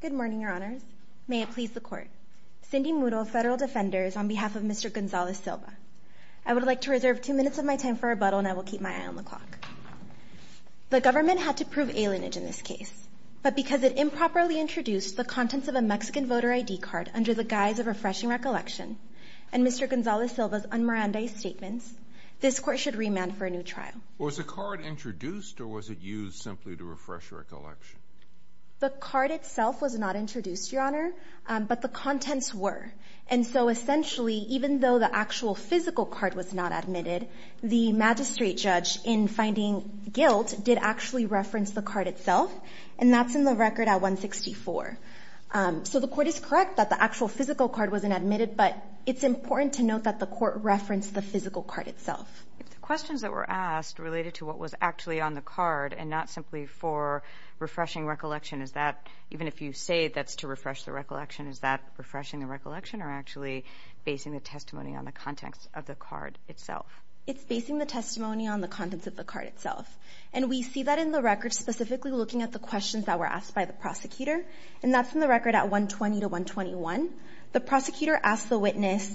Good morning, your honors. May it please the court. Cindy Moodle, federal defender, is on behalf of Mr. Gonzalez-Silva. I would like to reserve two minutes of my time for rebuttal and I will keep my eye on the clock. The government had to prove alienage in this case, but because it improperly introduced the contents of a Mexican voter ID card under the guise of refreshing recollection and Mr. Gonzalez-Silva's unmirandized statements, this court should remand for a new trial. Was the card introduced or was it used simply to refresh your recollection? The card itself was not introduced, your honor, but the contents were. And so essentially, even though the actual physical card was not admitted, the magistrate judge in finding guilt did actually reference the card itself and that's in the record at 164. So the court is correct that the actual physical card wasn't admitted, but it's important to note that the court referenced the physical card itself. If the questions that were asked related to what was actually on the card and not simply for refreshing recollection, is that even if you say that's to refresh the recollection, is that refreshing the recollection or actually basing the testimony on the context of the card itself? It's basing the testimony on the contents of the card itself and we see that in the record specifically looking at the questions that were asked by the prosecutor and that's in the record at 120 to 121. The prosecutor asked the witness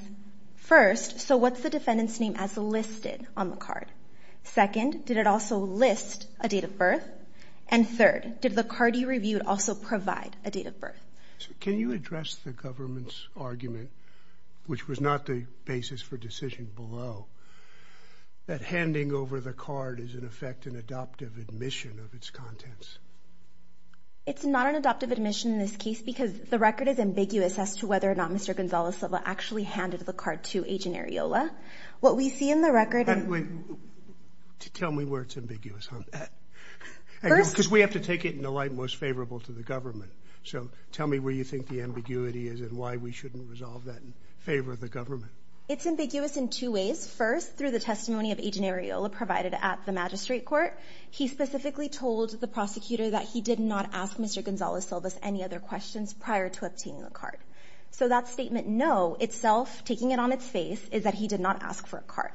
first, so what's the defendant's name as listed on the card? Second, did it also list a date of birth? And third, did the card you reviewed also provide a date of birth? Can you address the government's argument, which was not the basis for decision below, that handing over the card is in effect an adoptive admission of its contents? It's not an adoptive admission in this case because the record is ambiguous as to whether or not Mr. Gonzales-Silva actually handed the card to Agent Areola. What we see in the record... Tell me where it's ambiguous. Because we have to take it in the light most favorable to the government. So tell me where you think the ambiguity is and why we shouldn't resolve that in favor of the government. It's ambiguous in two ways. First, through the testimony of Agent Areola provided at the magistrate court, he specifically told the prosecutor that he did not ask Mr. Gonzales-Silva any other questions prior to obtaining the card. So that statement, no, itself, taking it on its face, is that he did not ask for a card.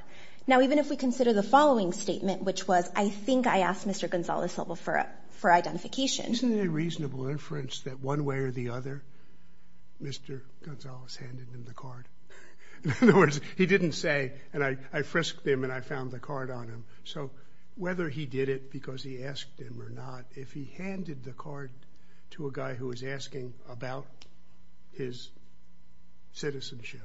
Now even if we consider the following statement, which was, I think I asked Mr. Gonzales-Silva for identification... Isn't it a reasonable inference that one way or the other, Mr. Gonzales handed him the card? In other words, he didn't say, I frisked him and I found the card on him. So whether he did it because he asked him or not, if he handed the card to a guy who was asking about his citizenship,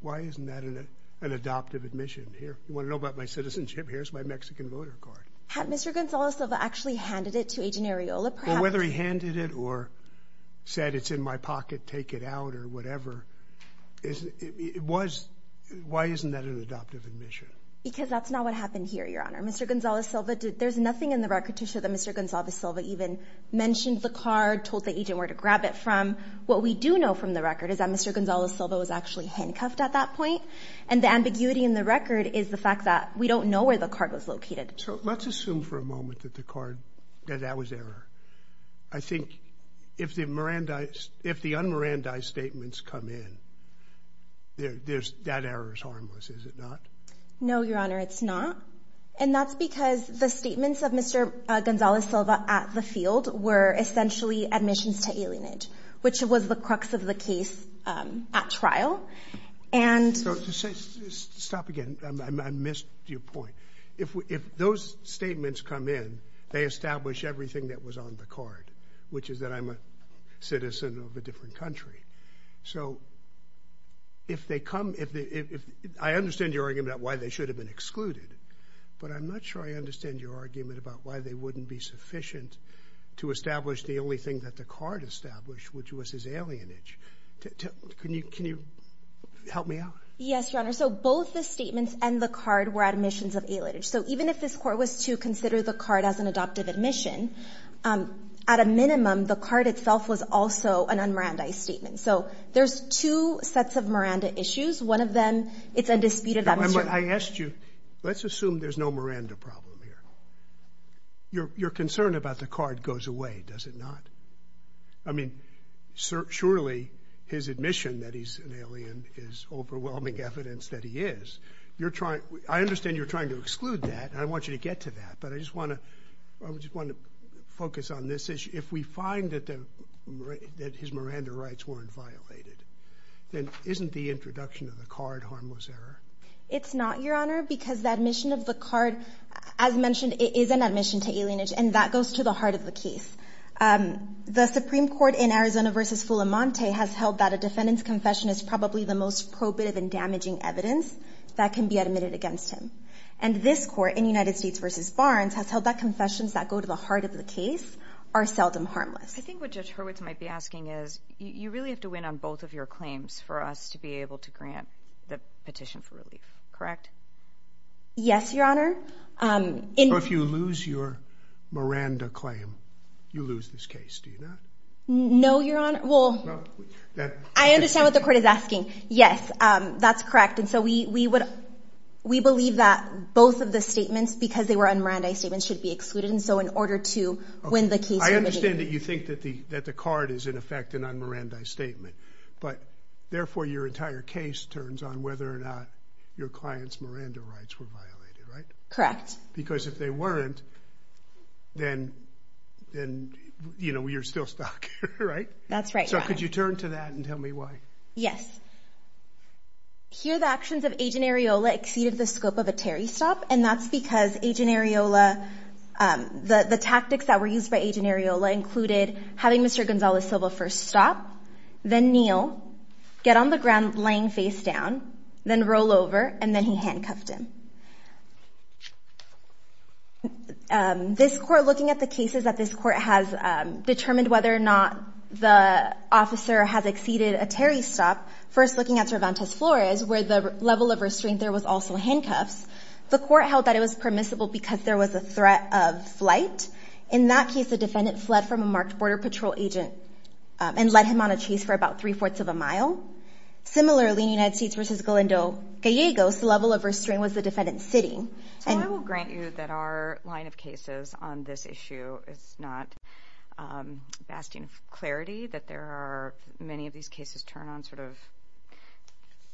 why isn't that an adoptive admission? Here, you want to know about my citizenship? Here's my Mexican voter card. Had Mr. Gonzales-Silva actually handed it to Agent Areola? Whether he handed it or said, it's in my pocket, take it out or whatever. Why isn't that an adoptive admission? Because that's not what happened here, Your Honor. Mr. Gonzales-Silva, there's nothing in the record to show that Mr. Gonzales-Silva even mentioned the card, told the agent where to grab it from. What we do know from the record is that Mr. Gonzales-Silva was actually handcuffed at that point. And the ambiguity in the record is the fact that we don't know where the card was located. So let's assume for a moment that that was error. I think if the un-Mirandi statements come in, that error is harmless, is it not? No, Your Honor, it's not. And that's because the statements of Mr. Gonzales-Silva at the field were essentially admissions to alienage, which was the of the case at trial. And... Stop again. I missed your point. If those statements come in, they establish everything that was on the card, which is that I'm a citizen of a different country. So if they come... I understand your argument about why they should have been excluded, but I'm not sure I understand your argument about why they wouldn't be sufficient to establish the only thing that the card established, which was his alienage. Can you help me out? Yes, Your Honor. So both the statements and the card were admissions of alienage. So even if this court was to consider the card as an adoptive admission, at a minimum, the card itself was also an un-Mirandi statement. So there's two sets of Miranda issues. One of them, it's undisputed... I asked you, let's assume there's no problem here. Your concern about the card goes away, does it not? I mean, surely his admission that he's an alien is overwhelming evidence that he is. You're trying... I understand you're trying to exclude that, and I want you to get to that, but I just want to focus on this issue. If we find that his Miranda rights weren't violated, then isn't the introduction of the card harmless error? It's not, Your Honor, because the admission of the card, as mentioned, it is an admission to alienage, and that goes to the heart of the case. The Supreme Court in Arizona versus Fulamonte has held that a defendant's confession is probably the most probative and damaging evidence that can be admitted against him. And this court in United States versus Barnes has held that confessions that go to the heart of the case are seldom harmless. I think what Judge Hurwitz might be asking is, you really have to claims for us to be able to grant the petition for relief, correct? Yes, Your Honor. If you lose your Miranda claim, you lose this case, do you not? No, Your Honor. Well, I understand what the court is asking. Yes, that's correct. And so we believe that both of the statements, because they were on Miranda's statement, should be excluded. And so in order to win the case... I understand that you that the card is in effect and on Miranda's statement, but therefore your entire case turns on whether or not your client's Miranda rights were violated, right? Correct. Because if they weren't, then, you know, you're still stuck, right? That's right. So could you turn to that and tell me why? Yes. Here the actions of Agent Areola exceeded the scope of a Terry stop, and that's Agent Areola... the tactics that were used by Agent Areola included having Mr. Gonzalez-Silva first stop, then kneel, get on the ground laying face down, then roll over, and then he handcuffed him. This court, looking at the cases that this court has determined whether or not the officer has exceeded a Terry stop, first looking at Cervantes Flores, where the level of restraint there was also handcuffs, the court held that it was permissible because there was a threat of flight. In that case, the defendant fled from a marked Border Patrol agent and led him on a chase for about three-fourths of a mile. Similarly, in United States v. Gallegos, the level of restraint was the defendant sitting. So I will grant you that our line of cases on this issue is not basting clarity, that there are many of these cases turn on sort of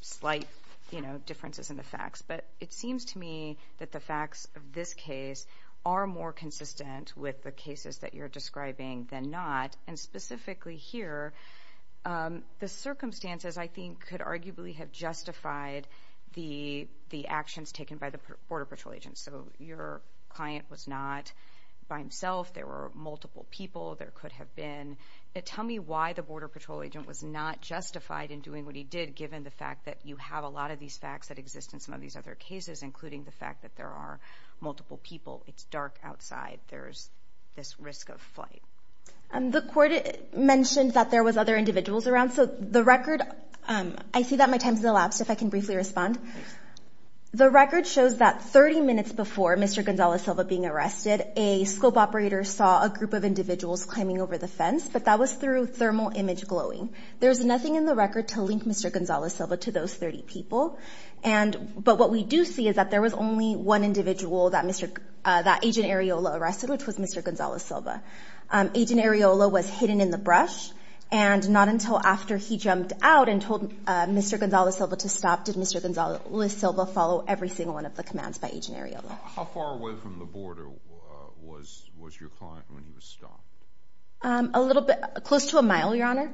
slight, you know, differences in the facts. But it seems to me that the facts of this case are more consistent with the cases that you're describing than not. And specifically here, the circumstances, I think, could arguably have justified the actions taken by the Border Patrol agent. So your client was not by himself, there were multiple people, there could have been. Tell me why the Border Patrol agent was not justified in doing what he did, given the fact that you have a lot of these facts that exist in some of these other cases, including the fact that there are multiple people, it's dark outside, there's this risk of flight. The court mentioned that there was other individuals around. So the record, I see that my time's elapsed, if I can briefly respond. The record shows that 30 minutes before Mr. Gonzalez-Silva being arrested, a scope operator saw a group of individuals climbing over the fence, but that was through thermal image glowing. There's nothing in the record to link Mr. Gonzalez-Silva to those 30 people. But what we do see is that there was only one individual that Agent Areola arrested, which was Mr. Gonzalez-Silva. Agent Areola was hidden in the brush, and not until after he jumped out and told Mr. Gonzalez-Silva to stop did Mr. Gonzalez-Silva follow every single one of the commands by Agent Areola. How far away from the border was your client when he was stopped? A little bit close to a mile, Your Honor.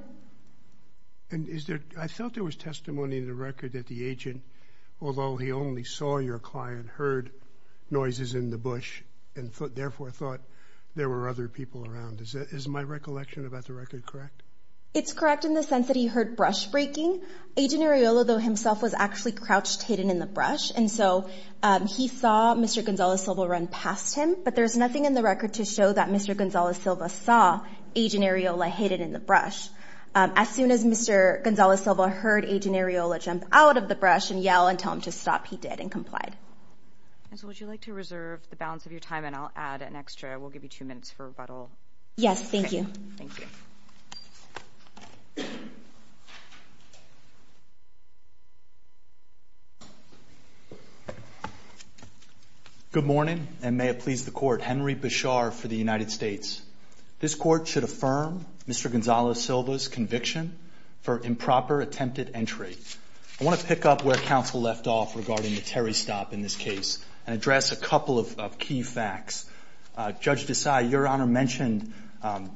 And I thought there was testimony in the record that the agent, although he only saw your client, heard noises in the bush and therefore thought there were other people around. Is my recollection about the record correct? It's correct in the sense that he heard brush breaking. Agent Areola, though, himself was actually crouched hidden in the brush. And so he saw Mr. Gonzalez-Silva run past him, but there's nothing in the record to show that Mr. Gonzalez-Silva saw Agent Areola hidden in the brush. As soon as Mr. Gonzalez-Silva heard Agent Areola jump out of the brush and yell and tell him to stop, he did and complied. And so would you like to reserve the balance of your time and I'll add an extra, we'll give you two minutes for rebuttal. Yes, thank you. Thank you. Good morning and may it please the court. Henry Bichar for the United States. This court should affirm Mr. Gonzalez-Silva's conviction for improper attempted entry. I want to pick up where counsel left off regarding the Terry stop in this case and address a couple of key facts. Judge Desai, your honor mentioned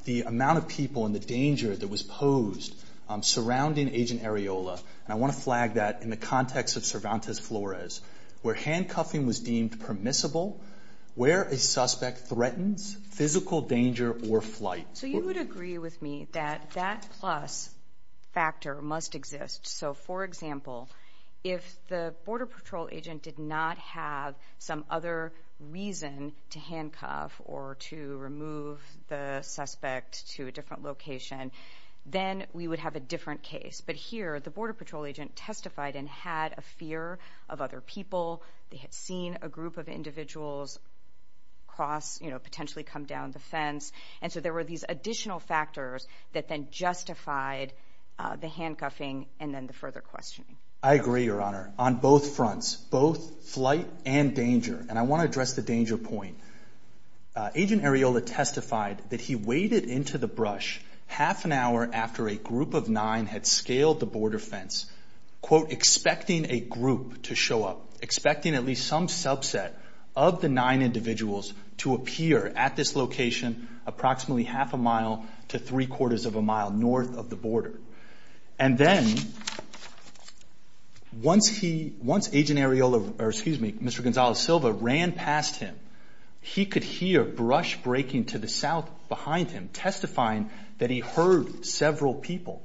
the amount of people and the danger that was posed surrounding Agent Areola. And I want to flag that in the context of Cervantes-Flores, where handcuffing was deemed permissible, where a suspect threatens physical danger or flight. So you would agree with me that that plus factor must exist. So for example, if the Border Patrol agent did not have some other reason to handcuff or to remove the suspect to a different location, then we would have a different case. But here the Border Patrol agent testified and had a fear of other people. They had seen a group of individuals cross, you know, potentially come down the fence. And so there were these additional factors that then justified the handcuffing and then the further questioning. I agree, your honor, on both fronts, both flight and danger. And I want to address the danger point. Agent Areola testified that he waded into the brush half an hour after a group of nine had scaled the border fence, quote, expecting a group to show up, expecting at least some subset of the nine individuals to appear at this location, approximately half a mile to three of a mile north of the border. And then once Agent Areola, or excuse me, Mr. Gonzalez-Silva ran past him, he could hear brush breaking to the south behind him, testifying that he heard several people.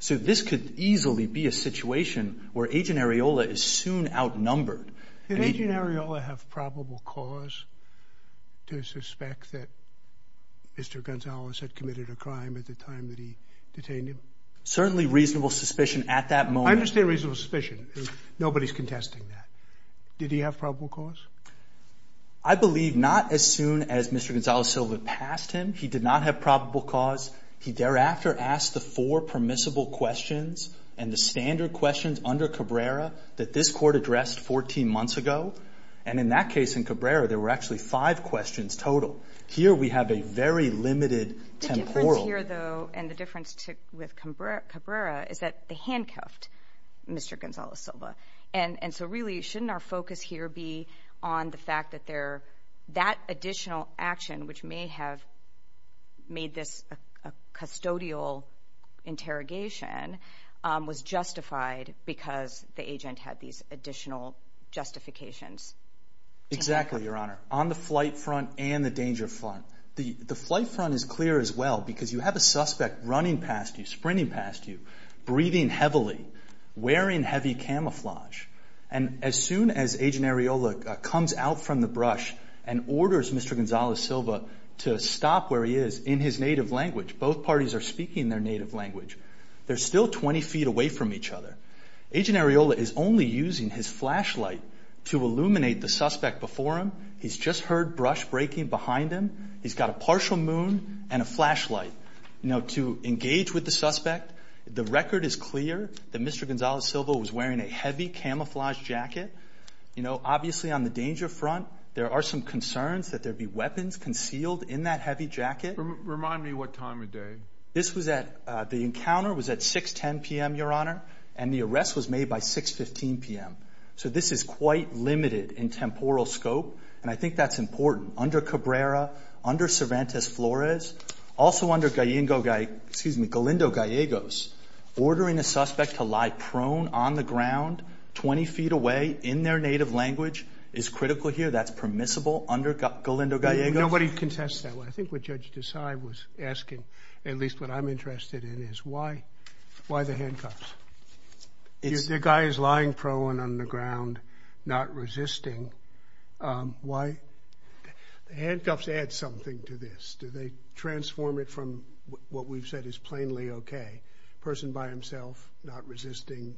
So this could easily be a situation where Agent Areola is soon outnumbered. Did Agent Areola have probable cause to suspect that Mr. Gonzalez had committed a crime at the time that he detained him? Certainly reasonable suspicion at that moment. I understand reasonable suspicion. Nobody's contesting that. Did he have probable cause? I believe not as soon as Mr. Gonzalez-Silva passed him. He did not have probable cause. He thereafter asked the four permissible questions and the standard questions under Cabrera that this court addressed 14 months ago. And in that case, in Cabrera, there were actually five questions total. Here we have a limited temporal... The difference here, though, and the difference with Cabrera is that they handcuffed Mr. Gonzalez-Silva. And so really, shouldn't our focus here be on the fact that that additional action, which may have made this a custodial interrogation, was justified because the agent had these additional justifications? Exactly, Your Honor. On the flight front and the danger front, the flight front is clear as well because you have a suspect running past you, sprinting past you, breathing heavily, wearing heavy camouflage. And as soon as Agent Areola comes out from the brush and orders Mr. Gonzalez-Silva to stop where he is in his native language, both parties are speaking their native language, they're still 20 feet away from each other. Agent Areola is only using his flashlight to illuminate the suspect before him. He's just heard brush breaking behind him. He's got a partial moon and a flashlight to engage with the suspect. The record is clear that Mr. Gonzalez-Silva was wearing a heavy camouflage jacket. Obviously, on the danger front, there are some concerns that there'd be weapons concealed in that heavy jacket. Remind me what time of day. This was at... The encounter was at 6.10 PM, Your Honor, and the arrest was made by 6.15 PM. So this is quite limited in temporal scope. And I think that's important. Under Cabrera, under Cervantes-Flores, also under Galindo-Gallegos, ordering a suspect to lie prone on the ground 20 feet away in their native language is critical here. That's permissible under Galindo-Gallegos. Nobody contests that. I think what Judge Desai was asking, at least what I'm interested in, is why the handcuffs? If the guy is lying prone on the ground, not resisting, why... The handcuffs add something to this. Do they transform it from what we've said is plainly okay, a person by himself not resisting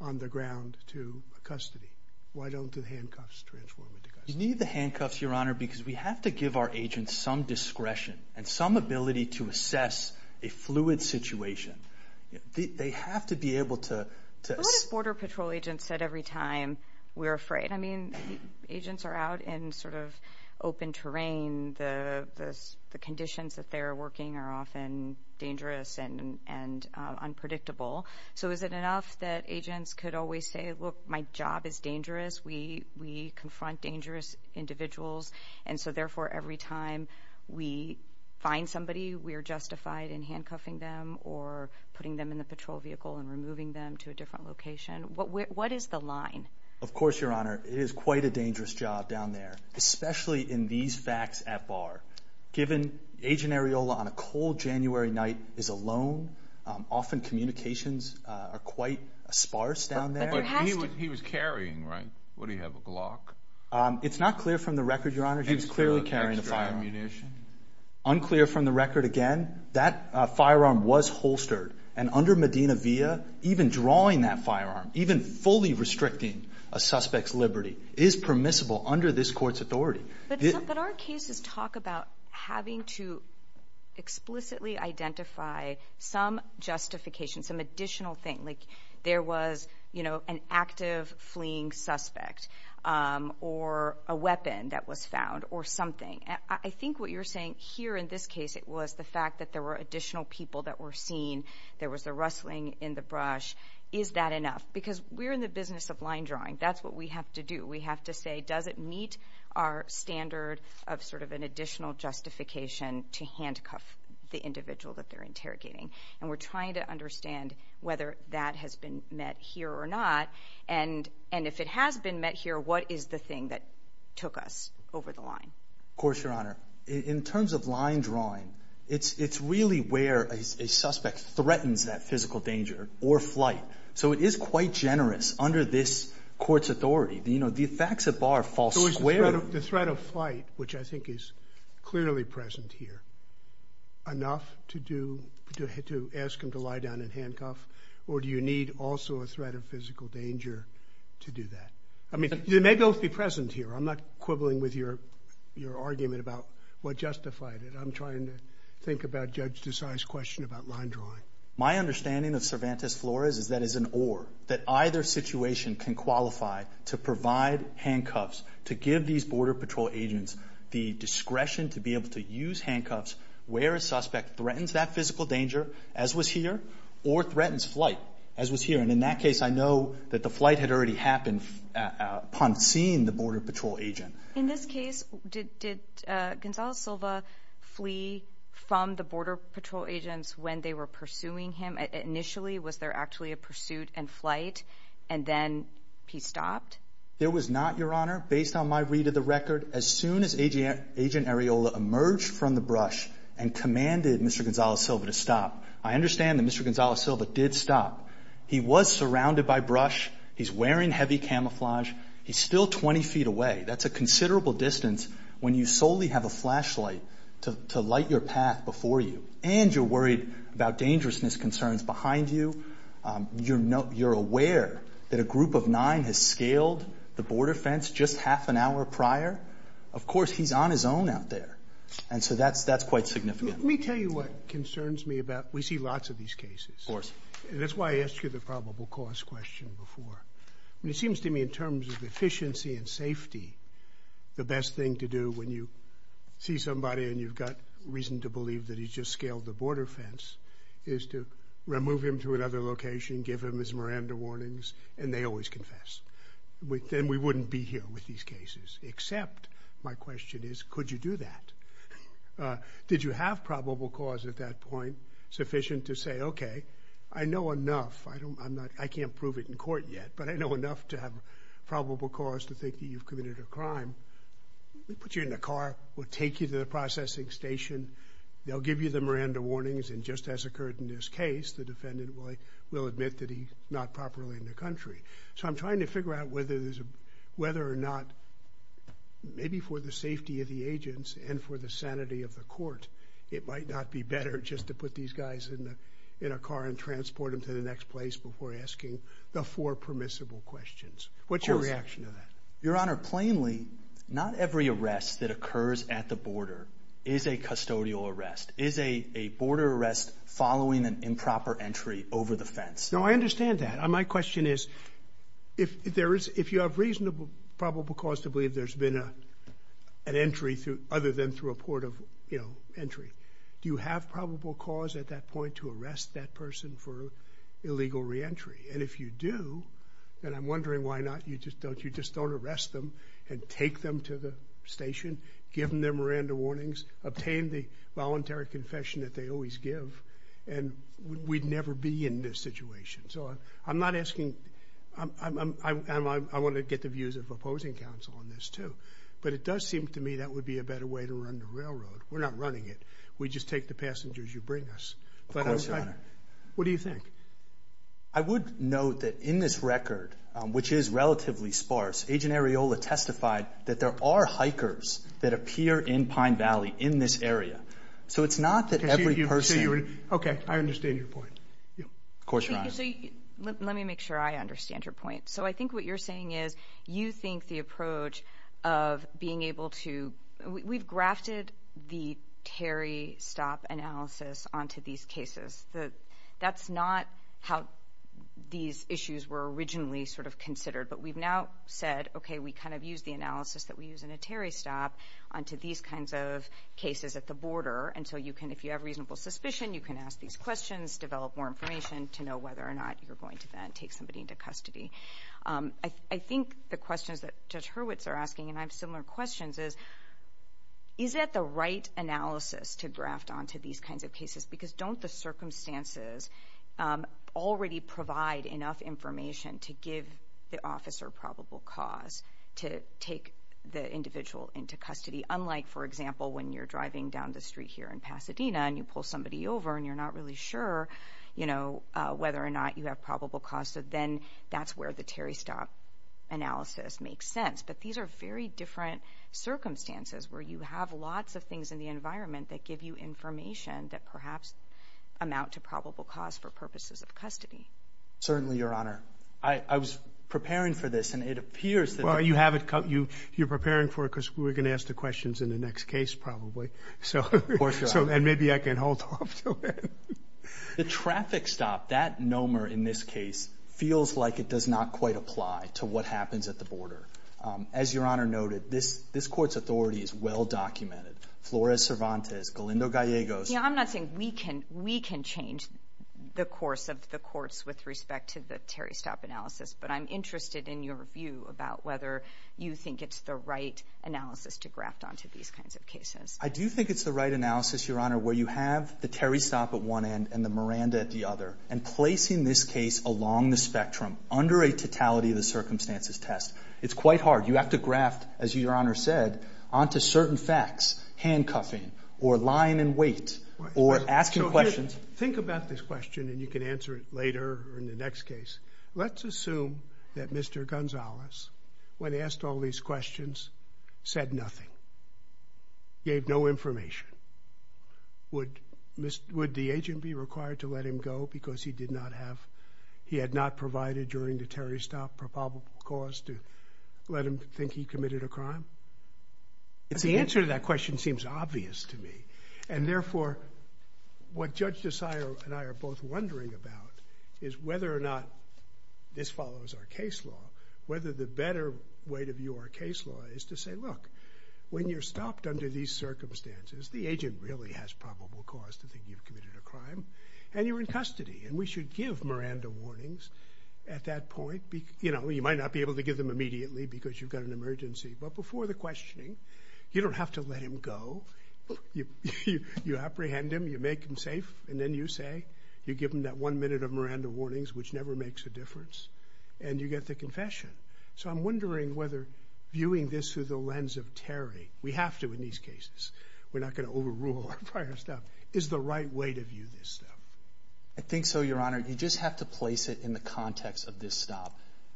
on the ground to custody? Why don't the handcuffs transform it to custody? You need the handcuffs, Your Honor, because we have to give our agents some discretion and some ability to assess a fluid situation. They have to be able to... What do Border Patrol agents said every time we're afraid? I mean, agents are out in sort of open terrain. The conditions that they're working are often dangerous and unpredictable. So is it enough that agents could always say, look, my job is dangerous. We confront dangerous individuals. And so therefore, every time we find somebody, we're justified in handcuffing them or putting them in the patrol vehicle and removing them to a different location. What is the line? Of course, Your Honor, it is quite a dangerous job down there, especially in these facts at bar. Given Agent Areola on a cold January night is alone, often communications are quite sparse down there. But he was carrying, right? Would he have a Glock? It's not clear from the record, Your Honor. He was clearly carrying a firearm. Unclear from the record again, that firearm was holstered. And under Medina via, even drawing that firearm, even fully restricting a suspect's liberty is permissible under this court's authority. But our cases talk about having to explicitly identify some justification, some additional thing. Like there was, you know, an active fleeing suspect or a weapon that was or something. I think what you're saying here in this case, it was the fact that there were additional people that were seen. There was a rustling in the brush. Is that enough? Because we're in the business of line drawing. That's what we have to do. We have to say, does it meet our standard of sort of an additional justification to handcuff the individual that they're interrogating? And we're trying to understand whether that has been met here or not. And if it has been met here, what is the thing that took us over the line? Of course, Your Honor. In terms of line drawing, it's really where a suspect threatens that physical danger or flight. So it is quite generous under this court's authority. You know, the facts at bar fall squarely. So the threat of flight, which I think is clearly present here, enough to ask him to lie down and handcuff? Or do you need also a threat of physical danger to do that? I mean, they may both be present here. I'm not quibbling with your argument about what justified it. I'm trying to think about Judge Desai's question about line drawing. My understanding of Cervantes Flores is that is an or, that either situation can qualify to provide handcuffs, to give these Border Patrol agents the discretion to be able to use handcuffs where a suspect threatens that physical danger, as was here, or threatens flight, as was here. And in that case, I know that the flight had already happened upon seeing the Border Patrol agent. In this case, did Gonzalo Silva flee from the Border Patrol agents when they were pursuing him? Initially, was there actually a pursuit and flight, and then he stopped? There was not, based on my read of the record. As soon as Agent Arriola emerged from the brush and commanded Mr. Gonzalo Silva to stop, I understand that Mr. Gonzalo Silva did stop. He was surrounded by brush. He's wearing heavy camouflage. He's still 20 feet away. That's a considerable distance when you solely have a flashlight to light your path before you, and you're worried about dangerousness concerns behind you. You're aware that a group of nine has scaled the border fence just half an hour prior. Of course, he's on his own out there, and so that's quite significant. Let me tell you what concerns me about... We see lots of these cases. Of course. And that's why I asked you the probable cause question before. It seems to me, in terms of efficiency and safety, the best thing to do when you see somebody and you've got reason to believe that he's just scaled the border fence is to remove him to another location, give him his Miranda warnings, and they always confess. Then we wouldn't be here with these cases. Except, my question is, could you do that? Did you have probable cause at that point sufficient to say, okay, I know enough. I can't prove it in court yet, but I know enough to have probable cause to think that you've committed a crime. We put you in the car. We'll take you to the processing station. They'll give you the Miranda warnings, and just as occurred in this case, the defendant will admit that he's not properly in the country. So I'm trying to figure out whether or not, maybe for the safety of the agents and for the sanity of the court, it might not be better just to put these guys in a car and transport them to the next place before asking the four permissible questions. What's your reaction to that? Your Honor, plainly, not every arrest that occurs at the border is a custodial arrest, is a border arrest following an improper entry over the fence. No, I understand that. My question is, if you have reasonable probable cause to believe there's been an entry other than through a port of entry, do you have probable cause at that point to arrest that person for illegal re-entry? And if you do, then I'm wondering why not, you just don't arrest them and take them to the station, give them their Miranda warnings, obtain the voluntary confession that they always give, and we'd never be in this situation. So I'm not asking, and I want to get the views of opposing counsel on this too, but it does seem to me that would be a better way to run the railroad. We're not running it. We just take the passengers you bring us. What do you think? I would note that in this record, which is relatively sparse, Agent Areola testified that there are hikers that appear in Pine Valley in this area. So it's not that every person... Okay, I understand your point. Of course, Your Honor. Let me make sure I understand your point. So I think what you're saying is, you think the approach of being able to... We've grafted the Terry stop analysis onto these cases. That's not how these issues were originally sort of considered, but we've now said, okay, we kind of use the analysis that we use in a Terry stop onto these kinds of cases at the border. And so you can, if you have reasonable suspicion, you can ask these questions, develop more information to know whether or not you're going to then take somebody into custody. I think the questions that Judge Hurwitz are asking, and I have similar questions, is, is that the right analysis to graft onto these kinds of cases? Because don't the circumstances already provide enough information to give the officer probable cause to take the individual into custody? Unlike, for example, when you're driving down the street here in Pasadena and you pull somebody over and you're not really sure whether or not you have probable cause. So then that's where the Terry stop analysis makes sense. But these are very different circumstances where you have lots of things in the environment that give you information that perhaps amount to probable cause for purposes of custody. Certainly, Your Honor. I was preparing for this and it appears that... Well, you have it, you're preparing for it because we're going to ask the questions in the next case, probably. So, and maybe I can hold off. The traffic stop, that nomer in this case feels like it does not quite apply to what happens at the border. As Your Honor noted, this court's authority is well-documented. Flores Cervantes, Galindo Gallegos... Yeah, I'm not saying we can, we can change the course of the courts with respect to the Terry stop analysis. But I'm interested in your view about whether you think it's the right analysis to graft onto these kinds of cases. I do think it's the right analysis, Your Honor, where you have the Terry stop at one end and the Miranda at the other. And placing this case along the spectrum, under a totality of the circumstances test, it's quite hard. You have to graft, as Your Honor said, onto certain facts, handcuffing or lying in wait or asking questions. Think about this question and you can answer it later or in the next case. Let's assume that Mr. Gonzalez, when asked all these questions, said nothing, gave no information. Would the agent be required to let him go because he did not have, he had not provided during the Terry stop probable cause to let him think he committed a crime? The answer to that question seems obvious to me. And therefore, what Judge Desai and I are both wondering about is whether or not this follows our case law, whether the better way to view our case law is to say, look, when you're stopped under these circumstances, the agent really has probable cause to think you've committed a crime and you're in custody. And we should give Miranda warnings at that point. You know, you might not be able to give them immediately because you've got an emergency, but before the questioning, you don't have to let him go. You apprehend him, you make him safe, and then you say, you give him that one minute of Miranda warnings, which never makes a difference, and you get the confession. So I'm wondering whether viewing this through the lens of Terry, we have to in these cases, we're not going to overrule our prior stuff, is the right way to view this stuff? I think so, Your Honor. You just have to place it in the context of this stop.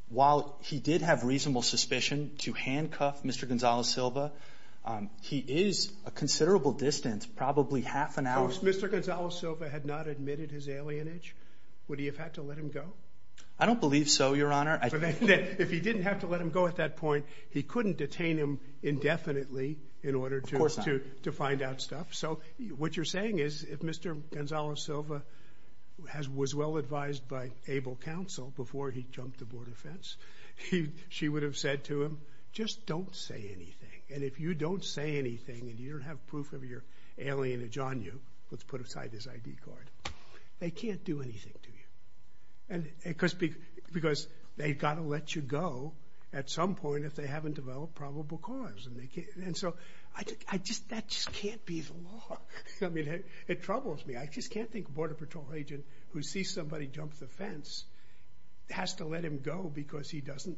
While he did have reasonable suspicion to handcuff Mr. Gonzales-Silva, he is a considerable distance, probably half an hour. If Mr. Gonzales-Silva had not admitted his alienage, would he have had to let him go? I don't believe so, Your Honor. If he didn't have to let him go at that point, he couldn't detain him indefinitely in order to find out stuff. So what you're saying is, if Mr. Gonzales-Silva was well advised by able counsel before he jumped the border fence, she would have said to him, just don't say anything. And if you don't say anything, and you don't have proof of your alienage on you, let's put aside his ID card, they can't do anything to you. Because they've got to let you go at some point if they haven't developed probable cause. That just can't be the law. It troubles me. I just can't think a Border Patrol agent who sees somebody jump the fence has to let him go because he doesn't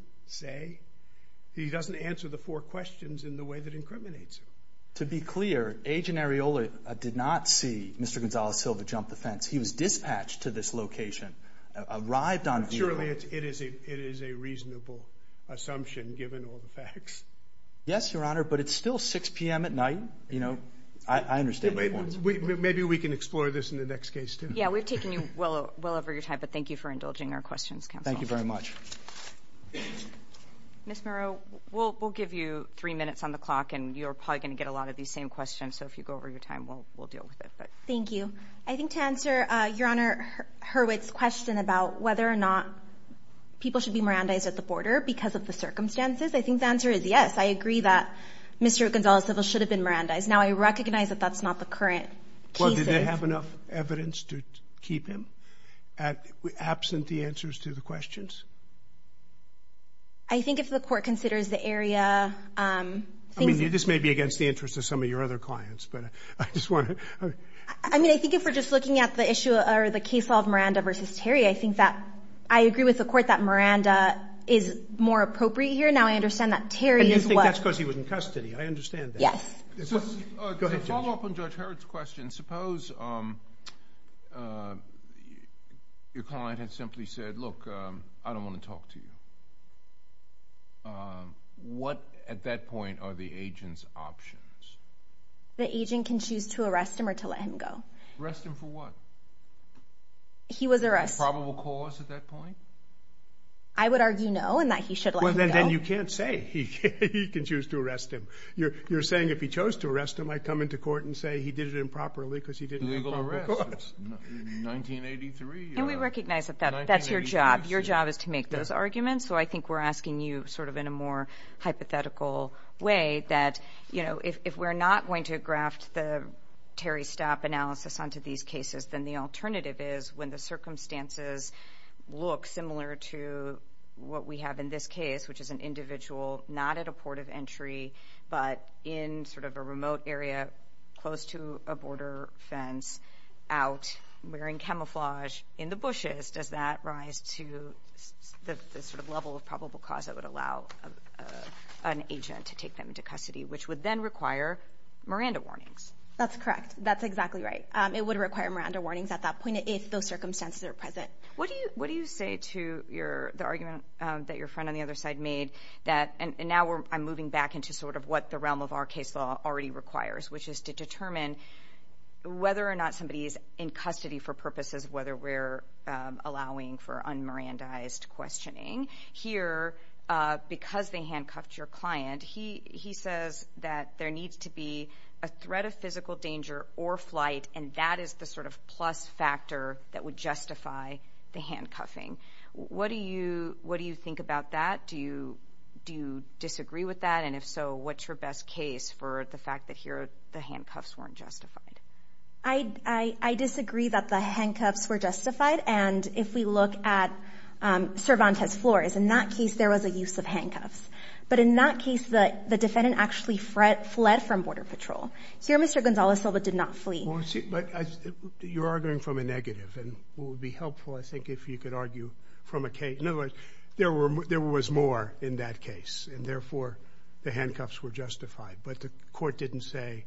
answer the four questions in the way that incriminates him. To be clear, Agent Areola did not see Mr. Gonzales-Silva jump the fence. He was dispatched to this location, arrived on vehicle. Surely it is a reasonable assumption, given all the facts. Yes, Your Honor, but it's still 6 p.m. at night. Maybe we can explore this in the next case, too. Yeah, we've taken you well over your time, but thank you for indulging our questions, counsel. Thank you very much. Ms. Murrow, we'll give you three minutes on the clock, and you're probably going to get a lot of these same questions. So if you go over your time, we'll deal with it. Thank you. I think to answer Your Honor Hurwitz's question about whether or not people should be Mirandais at the border because of the circumstances, I think the answer is yes. I agree that Mr. Gonzales-Silva should have been Mirandais. Now, I recognize that that's not the current case. Well, did they have enough evidence to keep him absent the answers to the questions? I think if the Court considers the area... I mean, this may be against the interest of some of your other clients, but I just want to... I mean, I think if we're just looking at the case of Miranda v. Terry, I think that I agree with the Court that Miranda is more appropriate here. Now, I understand that Terry is what... And you think that's because he was in custody. I understand that. Yes. Go ahead, Judge. To follow up on Judge Hurwitz's question, suppose your client had simply said, look, I don't want to talk to you. What, at that point, are the agent's options? The agent can choose to arrest him or to let him go. Arrest him for what? He was arrested. Probable cause at that point? I would argue no, and that he should let him go. Then you can't say he can choose to arrest him. You're saying if he chose to arrest him, I'd come into court and say he did it improperly because he didn't have a proper cause. Legal arrest. 1983 or... And we recognize that that's your job. Your job is to make those arguments. So, I think we're asking you sort of in a more hypothetical way that if we're not going to draft the Terry Stapp analysis onto these cases, then the alternative is when the circumstances look similar to what we have in this case, which is an individual not at a port of entry, but in sort of a remote area, close to a border fence, out wearing camouflage in the bushes. Does that rise to the sort of level of probable cause that would allow an agent to take them into custody, which would then require Miranda warnings? That's correct. That's exactly right. It would require Miranda warnings at that point if those circumstances are present. What do you say to the argument that your friend on the other side made that, and now I'm moving back into sort of what the realm of our case law already requires, which is to determine whether or not somebody is in custody for purposes of whether we're allowing for un-Mirandized questioning. Here, because they handcuffed your client, he says that there needs to be a threat of physical danger or flight, and that is the sort of plus factor that would justify the handcuffing. What do you think about that? Do you disagree with that? And if so, what's your best case for the fact that here the handcuffs weren't justified? I disagree that the handcuffs were justified, and if we look at Cervantes' floors, in that case, there was a use of handcuffs. But in that case, the defendant actually fled from Border Patrol. Here, Mr. Gonzalez Silva did not flee. But you're arguing from a negative, and it would be helpful, I think, if you could argue from a case. In other words, there was more in that case, and therefore the handcuffs were justified. But the court didn't say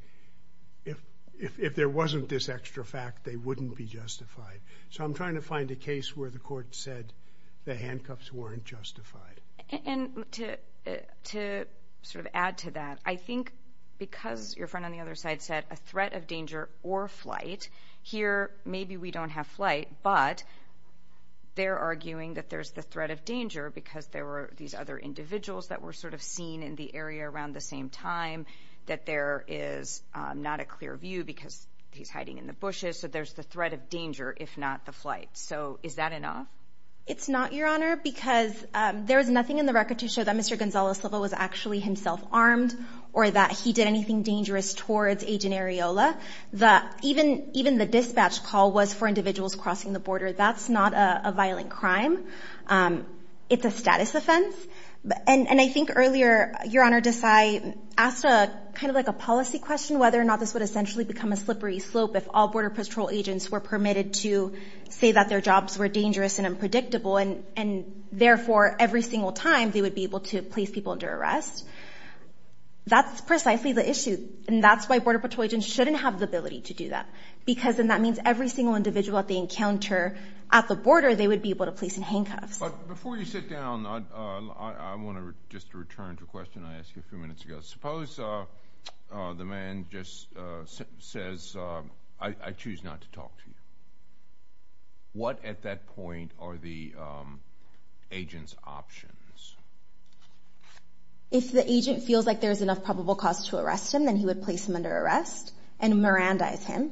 if there wasn't this extra fact, they wouldn't be justified. So I'm trying to find a case where the court said the handcuffs weren't justified. And to sort of add to that, I think because your friend on the other side said a threat of danger or flight, here maybe we don't have flight, but they're arguing that there's the threat of danger because there were these other individuals that were sort of seen in the area around the same time, that there is not a clear view because he's hiding in the bushes. So there's the threat of danger, if not the flight. So is that enough? It's not, Your Honor, because there was nothing in the record to show that Mr. Gonzalez Silva was actually himself armed or that he did anything dangerous towards Agent Areola. Even the dispatch call was for individuals crossing the border. That's not a violent crime. It's a status offense. And I think earlier, Your Honor, Desai asked a kind of like a policy question whether or not this would essentially become a slippery slope if all Border Patrol agents were permitted to say that their jobs were dangerous and unpredictable, and therefore every single time they would be able to place people under arrest. That's precisely the issue, and that's why Border Patrol agents shouldn't have the ability to do that, because then that means every single individual that they encounter at the border, they would be able to place in handcuffs. But before you sit down, I want to just return to a question I asked you a few minutes ago. Suppose the man just says, I choose not to talk to you. What at that point are the agent's options? If the agent feels like there's enough probable cause to arrest him, then he would place him under arrest and Mirandize him.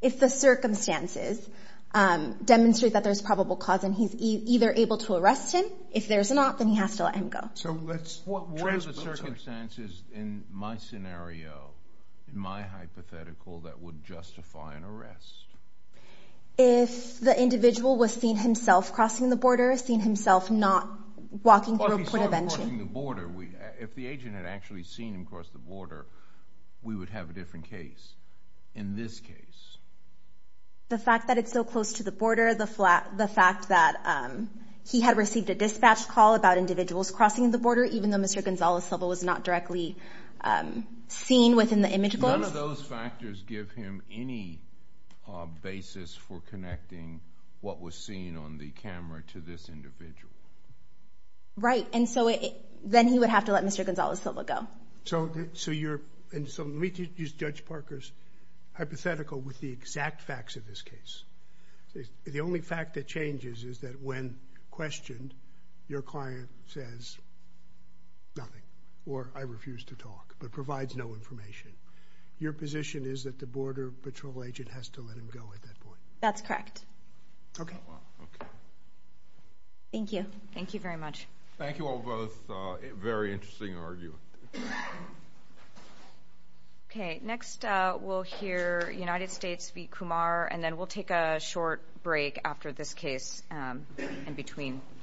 If the circumstances demonstrate that there's probable cause and he's either able to arrest him, if there's not, then he has to let him go. So what were the circumstances in my scenario, in my hypothetical that would justify an arrest? If the individual was seen himself crossing the border, seen himself not walking through a point of entry? If the agent had actually seen him cross the border, we would have a different case. In this case? The fact that it's so close to the border, the fact that he had received a dispatch call about individuals crossing the border, even though Mr. Gonzales' level was not directly seen within the image. Does those factors give him any basis for connecting what was seen on the camera to this individual? Right. And so then he would have to let Mr. Gonzales' level go. So let me use Judge Parker's hypothetical with the exact facts of this case. The only fact that is that when questioned, your client says nothing, or I refuse to talk, but provides no information. Your position is that the Border Patrol agent has to let him go at that point? That's correct. Okay. Thank you. Thank you very much. Thank you all both. Very interesting argument. Okay. Next, we'll hear United States v. Kumar, and then we'll take a short break after this case in between.